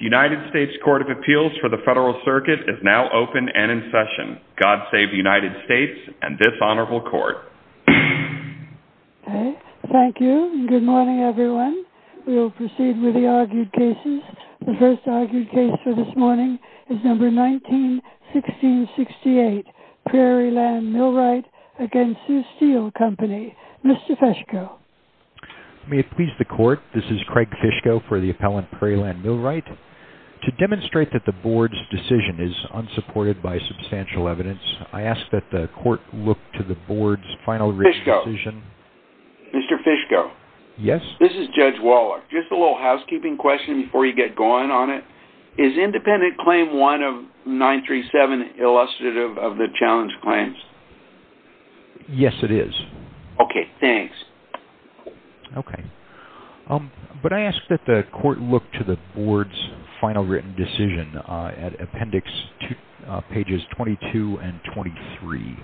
United States Court of Appeals for the Federal Circuit is now open and in session. God Save the United States and this Honorable Court. Thank you and good morning everyone. We will proceed with the argued cases. The first argued case for this morning is number 19-1668 Prairie Land Millwright v. Sioux Steel Company. Mr. Fishko. May it please the court, this is Craig Fishko for the appellant Prairie Land Millwright. To demonstrate that the board's decision is unsupported by substantial evidence, I ask that the court look to the board's final written decision. Fishko. Mr. Fishko. Yes. This is Judge Waller. Just a little housekeeping question before you get going on it. Is independent claim one of 937 illustrative of the challenge claims? Fishko. Yes, it is. Waller. Okay, thanks. Okay, but I ask that the court look to the board's final written decision at appendix pages 22 and 23.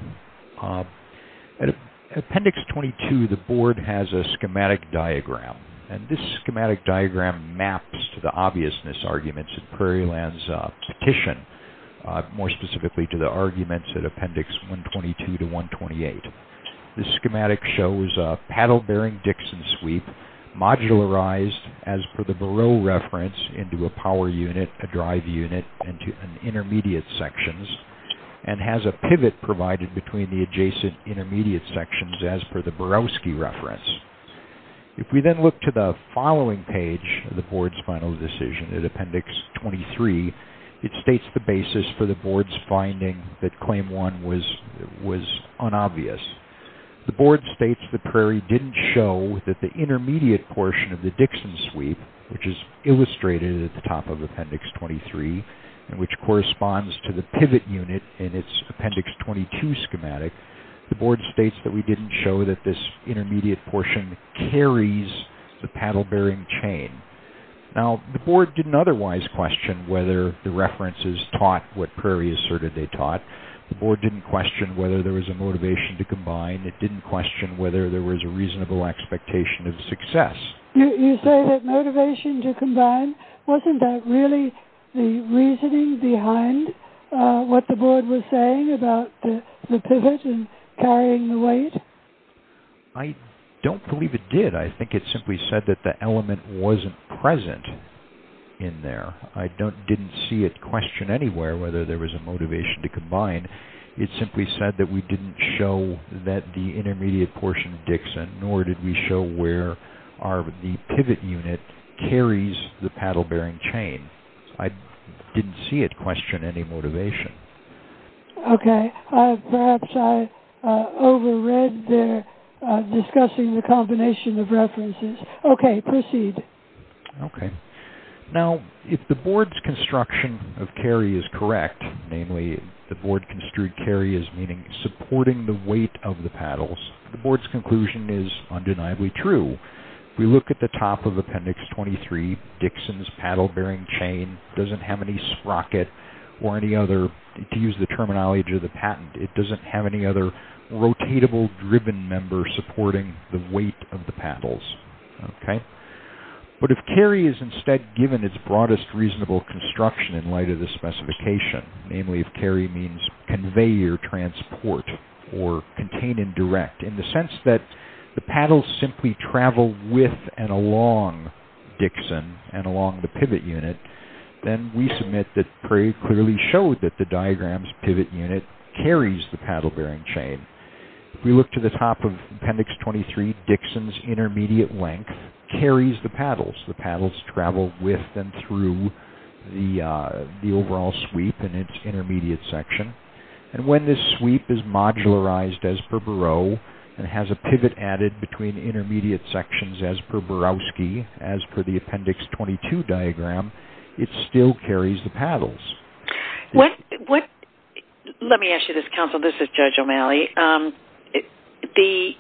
At appendix 22, the board has a schematic diagram and this schematic diagram maps to the obviousness arguments in Prairie Land's petition, more specifically to the arguments at appendix 122-128. This schematic shows a paddle bearing Dixon sweep modularized as per the Barrow reference into a power unit, a drive unit, and to intermediate sections and has a pivot provided between the adjacent intermediate sections as per the Borowski reference. If we then look to the following page of the board's final decision at appendix 23, it states the basis for the board's finding that claim one was unobvious. The board states that Prairie didn't show that the intermediate portion of the Dixon sweep, which is illustrated at the top of appendix 23 and which corresponds to the pivot unit in its appendix 22 schematic. The board states that we didn't show that this intermediate portion carries the paddle bearing chain. Now, the board didn't otherwise question whether the references taught what Prairie asserted they taught. The board didn't question whether there was a motivation to combine. It didn't question whether there was a reasonable expectation of success. You say that motivation to combine, wasn't that really the reasoning behind what the board was saying about the pivot and carrying the weight? I don't believe it did. I think it simply said that the element wasn't present in there. I didn't see it question anywhere whether there was a motivation to combine. It simply said that we didn't show that the intermediate portion of Dixon, nor did we show where the pivot unit carries the paddle bearing chain. I didn't see it question any motivation. Okay, perhaps I over read there discussing the combination of references. Okay, proceed. Okay. Now, if the board's construction of carry is correct, namely the board construed carry as meaning supporting the weight of the paddles, the board's conclusion is undeniably true. If we look at the top of appendix 23, Dixon's paddle bearing chain doesn't have any sprocket or any other, to use the terminology of the patent, it doesn't have any other rotatable driven member supporting the weight of the paddles. Okay. But if carry is instead given its broadest reasonable construction in light of the specification, namely if carry means convey your transport or contain indirect, in the sense that the paddles simply travel with and along Dixon and along the pivot unit, then we submit that Perry clearly showed that the diagram's pivot unit carries the paddle bearing chain. If we look to the top of appendix 23, Dixon's intermediate length carries the paddles. The paddles travel with and through the overall sweep in its intermediate section. And when this sweep is modularized as per Barreau and has a pivot added between intermediate sections as per Barowski, as per the appendix 22 diagram, it still carries the paddles. Let me ask you this, counsel. This is Judge O'Malley. The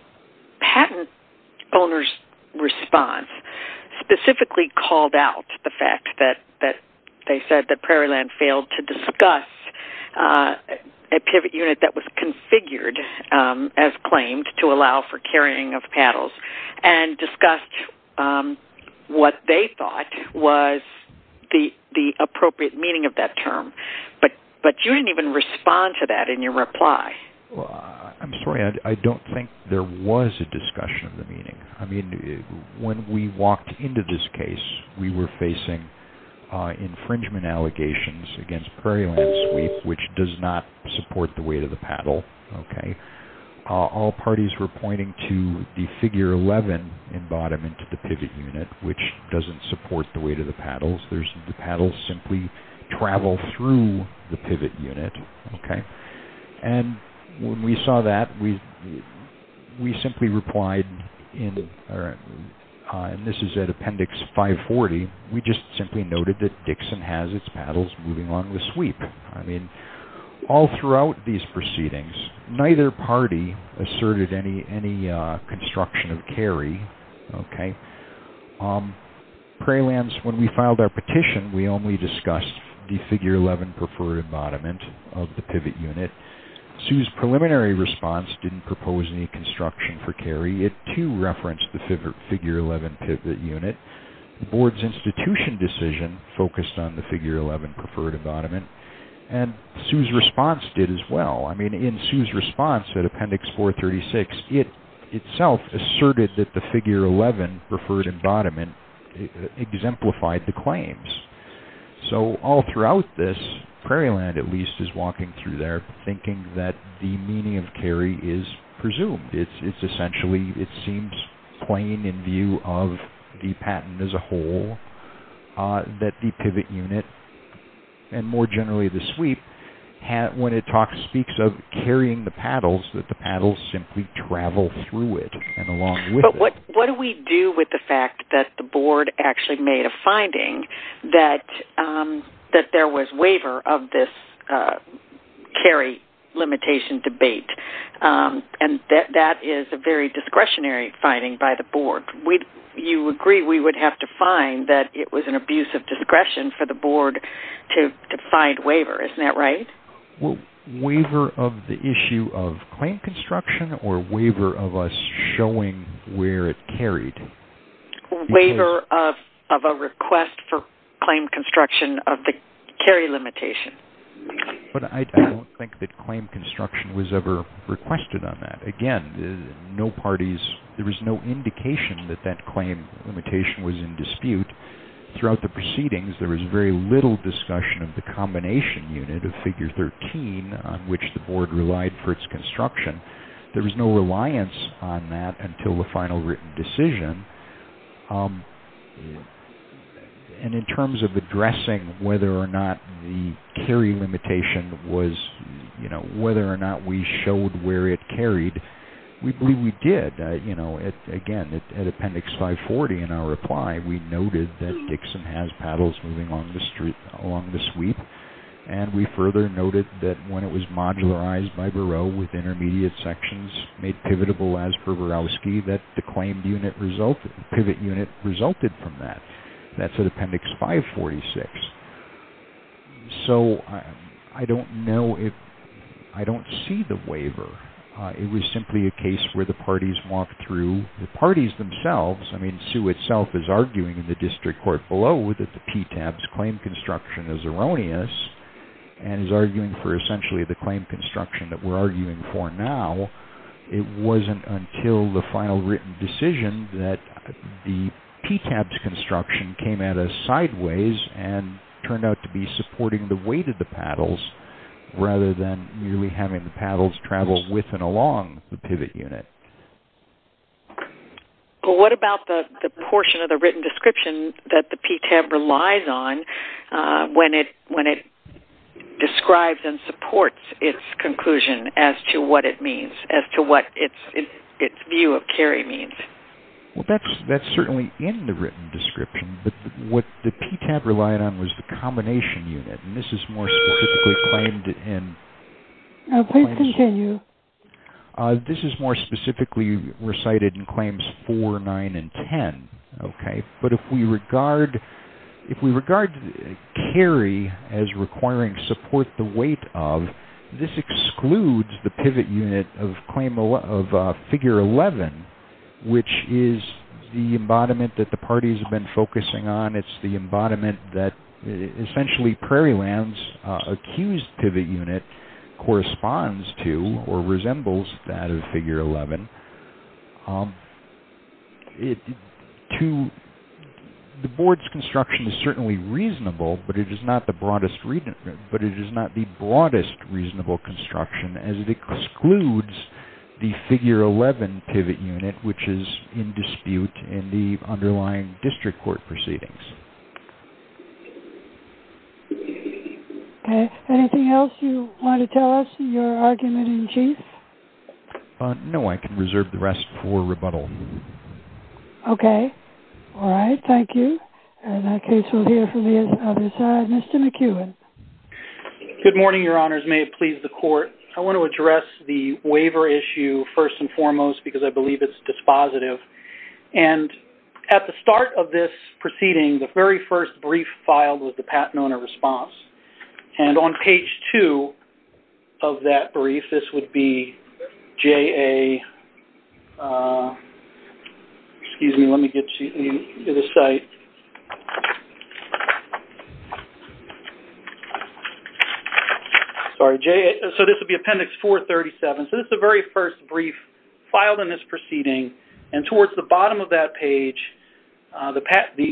patent owner's response specifically called out the fact that they said that Prairieland failed to discuss a pivot unit that was configured, as claimed, to allow for carrying of paddles and discussed what they thought was the appropriate meaning of that term. But you didn't even respond to that in your reply. I'm sorry, I don't think there was a discussion of the meaning. I mean, when we walked into this case, we were facing infringement allegations against Prairieland sweep, which does not support the weight of the paddle. All parties were pointing to the figure 11 in bottom, into the pivot unit, which doesn't support the weight of the paddles. The paddles simply travel through the pivot unit. And when we saw that, we simply replied, and this is at appendix 540, we just simply noted that Dixon has its paddles moving along with sweep. I mean, all throughout these proceedings, neither party asserted any construction of carry. Prairieland, when we filed our petition, we only discussed the figure 11 preferred embodiment of the pivot unit. Sue's preliminary response didn't propose any construction for carry. It, too, referenced the figure 11 pivot unit. The board's institution decision focused on the figure 11 preferred embodiment, and Sue's response did as well. I mean, in Sue's response at appendix 436, it itself asserted that the figure 11 preferred embodiment exemplified the claims. So, all throughout this, Prairieland, at least, is walking through there thinking that the meaning of carry is presumed. It's essentially, it seems plain in view of the patent as a whole that the pivot unit, and more generally the sweep, when it speaks of carrying the paddles, that the paddles simply travel through it and along with it. But what do we do with the fact that the board actually made a finding that there was waiver of this carry limitation debate? And that is a very discretionary finding by the board. You agree we would have to find that it was an abuse of discretion for the board to find waiver, isn't that right? Waiver of the issue of claim construction or waiver of us showing where it carried? Waiver of a request for claim construction of the carry limitation. But I don't think that claim construction was ever requested on that. Again, there was no indication that that claim limitation was in dispute. Throughout the proceedings, there was very little discussion of the combination unit of figure 13 on which the board relied for its construction. There was no reliance on that until the final written decision. And in terms of addressing whether or not the carry limitation was, whether or not we showed where it carried, we believe we did. Again, at Appendix 540 in our reply, we noted that Dixon has paddles moving along the sweep. And we further noted that when it was modularized by Bureau with intermediate sections, made pivotable as per Borowski, that the claimed pivot unit resulted from that. That's at Appendix 546. So, I don't know if, I don't see the waiver. It was simply a case where the parties walked through, the parties themselves, I mean, Sue itself is arguing in the district court below that the PTAB's claim construction is erroneous and is arguing for essentially the claim construction that we're arguing for now. It wasn't until the final written decision that the PTAB's construction came at us sideways and turned out to be supporting the weight of the paddles rather than merely having the paddles travel with and along the pivot unit. Well, what about the portion of the written description that the PTAB relies on when it describes and supports its conclusion as to what it means, as to what its view of carry means? Well, that's certainly in the written description. But what the PTAB relied on was the combination unit. And this is more specifically claimed in... Please continue. This is more specifically recited in Claims 4, 9, and 10. But if we regard carry as requiring support the weight of, this excludes the pivot unit of Figure 11, which is the embodiment that the parties have been focusing on. It's the embodiment that essentially Prairieland's accused pivot unit corresponds to or resembles that of Figure 11. The Board's construction is certainly reasonable, but it is not the broadest reasonable construction as it excludes the Figure 11 pivot unit, which is in dispute in the underlying district court proceedings. Okay. Anything else you want to tell us in your argument in chief? No, I can reserve the rest for rebuttal. Okay. All right. Thank you. And that case will hear from the other side. Mr. McEwen. Good morning, Your Honors. May it please the Court. I want to address the waiver issue first and foremost because I believe it's dispositive. And at the start of this proceeding, the very first brief filed was the Pat Nona response. And on page 2 of that brief, this would be J.A. Excuse me. Let me get you to the site. Sorry, J.A. So this would be Appendix 437. So this is the very first brief filed in this proceeding. And towards the bottom of that page, the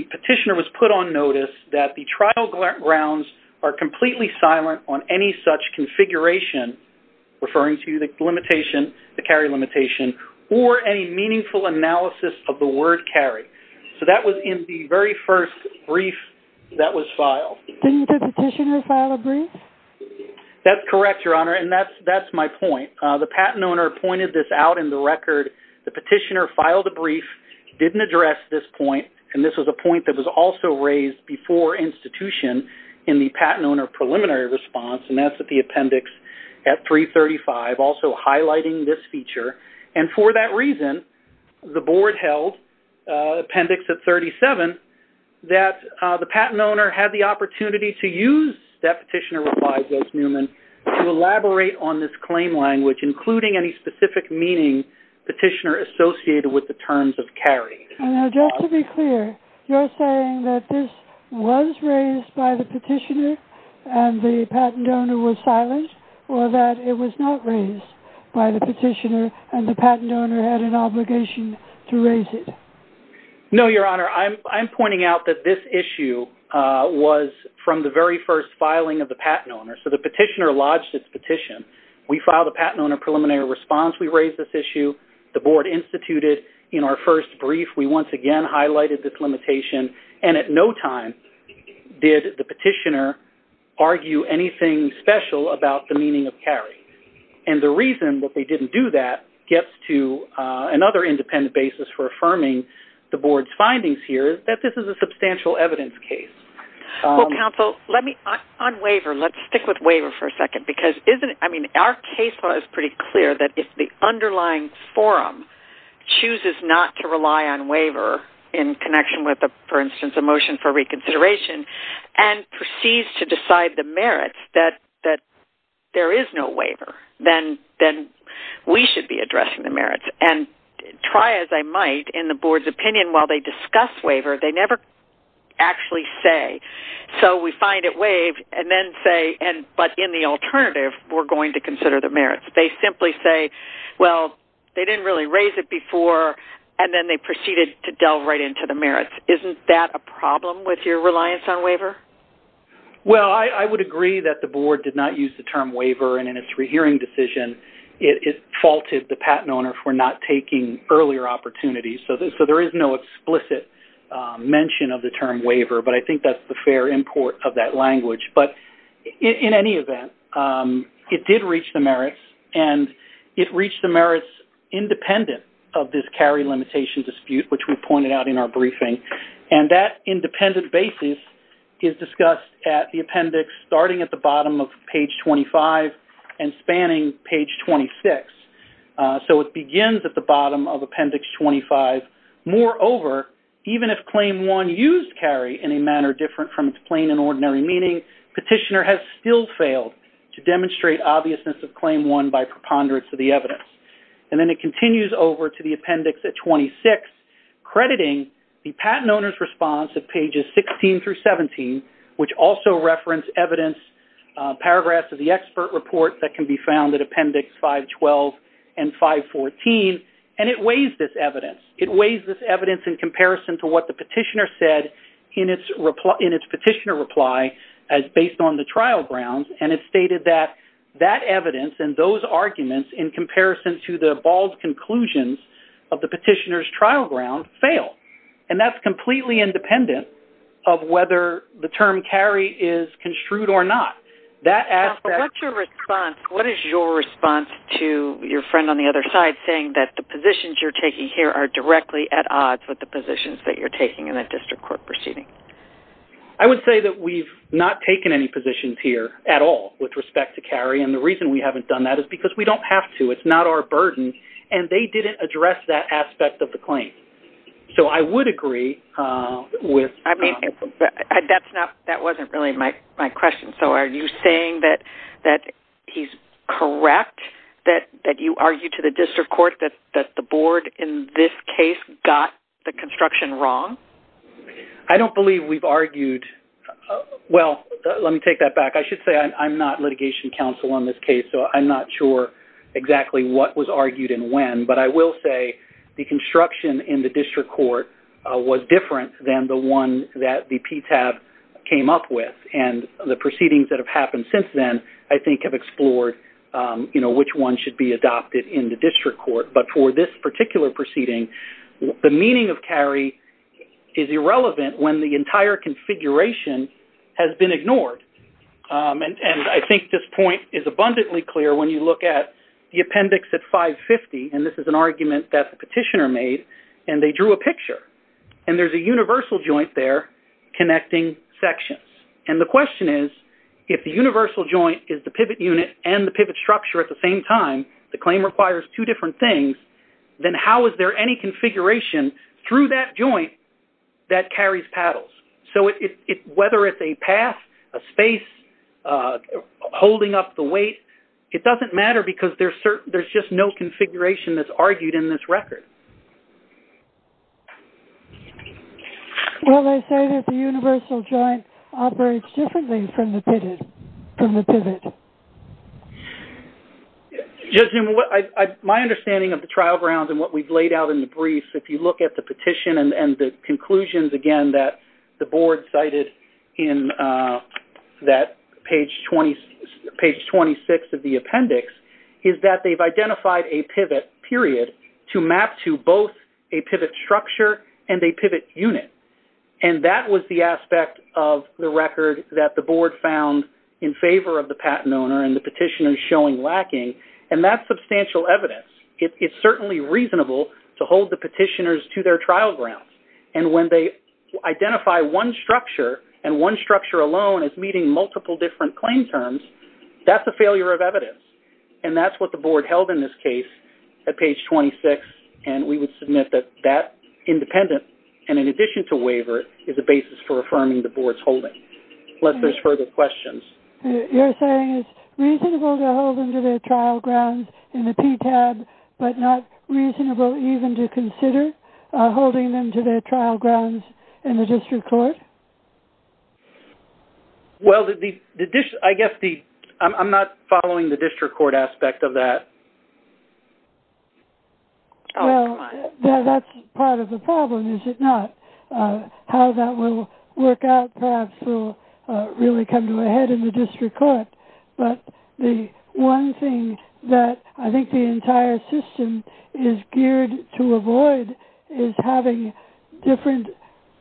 petitioner was put on notice that the trial grounds are completely silent on any such configuration, referring to the limitation, the carry limitation, or any meaningful analysis of the word carry. So that was in the very first brief that was filed. Didn't the petitioner file a brief? That's correct, Your Honor, and that's my point. The patent owner pointed this out in the record. The petitioner filed a brief, didn't address this point, and this was a point that was also raised before institution in the patent owner preliminary response, and that's at the appendix at 335, also highlighting this feature. And for that reason, the board held, appendix at 37, that the patent owner had the opportunity to use that petitioner replies, as Newman, to elaborate on this claim language, including any specific meaning petitioner associated with the terms of carry. Now, just to be clear, you're saying that this was raised by the petitioner and the patent owner was silent, or that it was not raised by the petitioner and the patent owner had an obligation to raise it? No, Your Honor. Your Honor, I'm pointing out that this issue was from the very first filing of the patent owner. So the petitioner lodged its petition. We filed a patent owner preliminary response. We raised this issue. The board instituted in our first brief. We once again highlighted this limitation, and at no time did the petitioner argue anything special about the meaning of carry. And the reason that they didn't do that gets to another independent basis for affirming the board's findings here that this is a substantial evidence case. Well, counsel, on waiver, let's stick with waiver for a second, because our case law is pretty clear that if the underlying forum chooses not to rely on waiver in connection with, for instance, a motion for reconsideration, and proceeds to decide the merits that there is no waiver, then we should be addressing the merits. And try as I might, in the board's opinion, while they discuss waiver, they never actually say, so we find it waived, and then say, but in the alternative we're going to consider the merits. They simply say, well, they didn't really raise it before, and then they proceeded to delve right into the merits. Isn't that a problem with your reliance on waiver? Well, I would agree that the board did not use the term waiver, and in its rehearing decision it faulted the patent owner for not taking earlier opportunities. So there is no explicit mention of the term waiver, but I think that's the fair import of that language. But in any event, it did reach the merits, and it reached the merits independent of this carry limitation dispute, which we pointed out in our briefing. And that independent basis is discussed at the appendix, starting at the bottom of page 25 and spanning page 26. So it begins at the bottom of appendix 25. Moreover, even if Claim 1 used carry in a manner different from its plain and ordinary meaning, Petitioner has still failed to demonstrate obviousness of Claim 1 by preponderance of the evidence. And then it continues over to the appendix at 26, crediting the patent owner's response at pages 16 through 17, which also referenced evidence, paragraphs of the expert report that can be found at appendix 512 and 514, and it weighs this evidence. It weighs this evidence in comparison to what the petitioner said in its petitioner reply as based on the trial grounds, and it stated that that evidence and those arguments, in comparison to the bald conclusions of the petitioner's trial ground, fail. And that's completely independent of whether the term carry is construed or not. What is your response to your friend on the other side saying that the positions you're taking here are directly at odds with the positions that you're taking in that district court proceeding? I would say that we've not taken any positions here at all with respect to carry, and the reason we haven't done that is because we don't have to. It's not our burden, and they didn't address that aspect of the claim. So I would agree with them. I mean, that wasn't really my question. So are you saying that he's correct, that you argued to the district court that the board in this case got the construction wrong? I don't believe we've argued. Well, let me take that back. I should say I'm not litigation counsel on this case, so I'm not sure exactly what was argued and when, but I will say the construction in the district court was different than the one that the PTAB came up with, and the proceedings that have happened since then I think have explored which one should be adopted in the district court. But for this particular proceeding, the meaning of carry is irrelevant when the entire configuration has been ignored. And I think this point is abundantly clear when you look at the appendix at 550, and this is an argument that the petitioner made, and they drew a picture. And there's a universal joint there connecting sections. And the question is if the universal joint is the pivot unit and the pivot structure at the same time, the claim requires two different things, then how is there any configuration through that joint that carries paddles? So whether it's a path, a space, holding up the weight, it doesn't matter because there's just no configuration that's argued in this record. Well, they say that the universal joint operates differently from the pivot. Judge Newman, my understanding of the trial grounds and what we've laid out in the brief, and that the board cited in that page 26 of the appendix, is that they've identified a pivot period to map to both a pivot structure and a pivot unit. And that was the aspect of the record that the board found in favor of the patent owner and the petitioner showing lacking. And that's substantial evidence. It's certainly reasonable to hold the petitioners to their trial grounds. And when they identify one structure and one structure alone as meeting multiple different claim terms, that's a failure of evidence. And that's what the board held in this case at page 26. And we would submit that that independent, and in addition to waiver, is a basis for affirming the board's holding, unless there's further questions. You're saying it's reasonable to hold them to their trial grounds in the PTAB, but not reasonable even to consider holding them to their trial grounds in the district court? Well, I guess I'm not following the district court aspect of that. Well, that's part of the problem, is it not? How that will work out perhaps will really come to a head in the district court. But the one thing that I think the entire system is geared to avoid is having different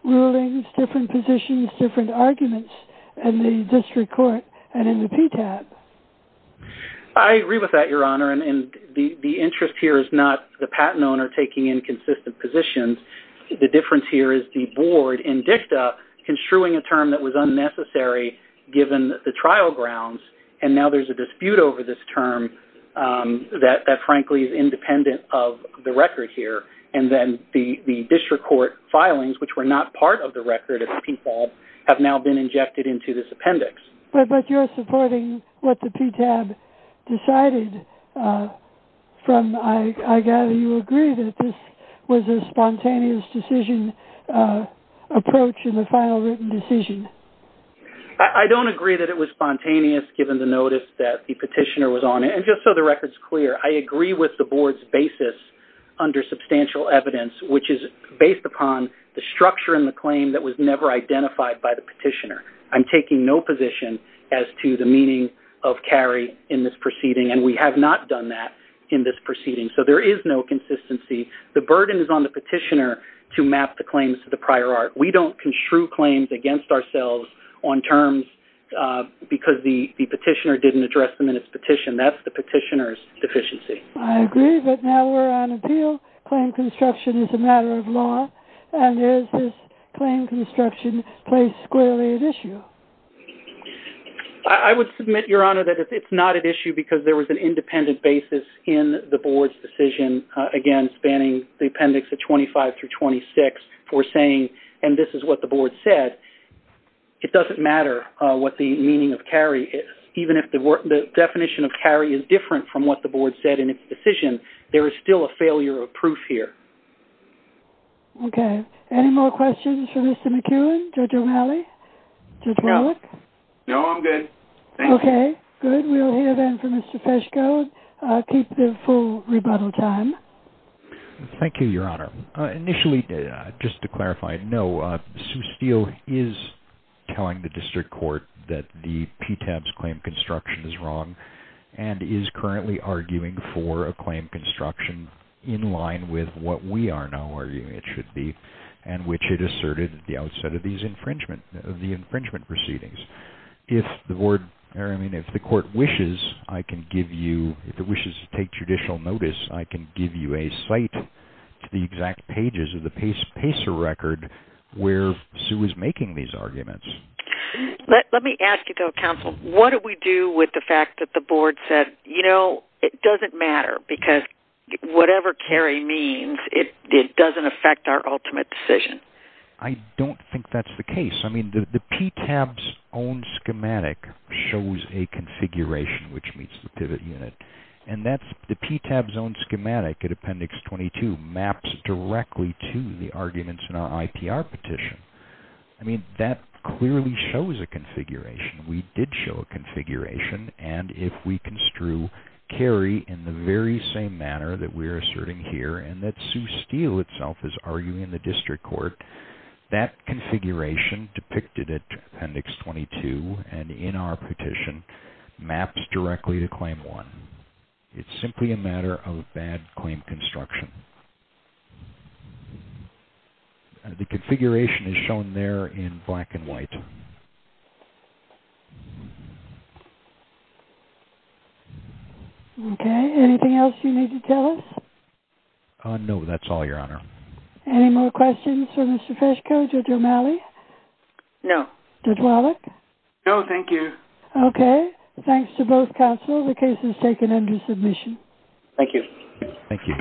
rulings, different positions, different arguments in the district court and in the PTAB. I agree with that, Your Honor. And the interest here is not the patent owner taking inconsistent positions. The difference here is the board in DICTA construing a term that was unnecessary given the trial grounds. And now there's a dispute over this term that, frankly, is independent of the record here. And then the district court filings, which were not part of the record at the PQALB, have now been injected into this appendix. But you're supporting what the PTAB decided from, I gather you agree that this was a spontaneous decision approach in the I don't agree that it was spontaneous, given the notice that the petitioner was on it. And just so the record's clear, I agree with the board's basis under substantial evidence, which is based upon the structure and the claim that was never identified by the petitioner. I'm taking no position as to the meaning of carry in this proceeding, and we have not done that in this proceeding. So there is no consistency. The burden is on the petitioner to map the claims to the prior art. We don't construe claims against ourselves on terms because the petitioner didn't address them in its petition. That's the petitioner's deficiency. I agree, but now we're on appeal. Claim construction is a matter of law. And is this claim construction placed squarely at issue? I would submit, Your Honor, that it's not at issue because there was an independent basis in the board's decision against banning the appendix of 25 through 26 for saying, and this is what the board said. It doesn't matter what the meaning of carry is. Even if the definition of carry is different from what the board said in its decision, there is still a failure of proof here. Okay. Any more questions for Mr. McEwen, Judge O'Malley? No, I'm good. Okay, good. We'll hear then from Mr. Fesko. I'll keep the full rebuttal time. Thank you, Your Honor. Initially, just to clarify, no. Sue Steele is telling the district court that the PTAB's claim construction is wrong and is currently arguing for a claim construction in line with what we are now arguing it should be and which it asserted at the outset of the infringement proceedings. If the court wishes, I can give you, if it wishes to take judicial notice, I can give you a cite to the exact pages of the PACER record where Sue is making these arguments. Let me ask you, though, counsel, what do we do with the fact that the board said, you know, it doesn't matter because whatever carry means, it doesn't affect our ultimate decision? I don't think that's the case. I mean, the PTAB's own schematic shows a configuration which meets the pivot unit, and that's the PTAB's own schematic at Appendix 22 maps directly to the arguments in our IPR petition. I mean, that clearly shows a configuration. We did show a configuration, and if we construe carry in the very same manner that we're asserting here and that Sue Steele itself is arguing in the district court, that configuration depicted at Appendix 22 and in our petition maps directly to Claim 1. It's simply a matter of bad claim construction. The configuration is shown there in black and white. Okay. Anything else you need to tell us? No, that's all, Your Honor. Any more questions for Mr. Fesko, Judge O'Malley? No. Judge Wallach? No, thank you. Okay. Thanks to both counsel. The case is taken under submission. Thank you. Thank you.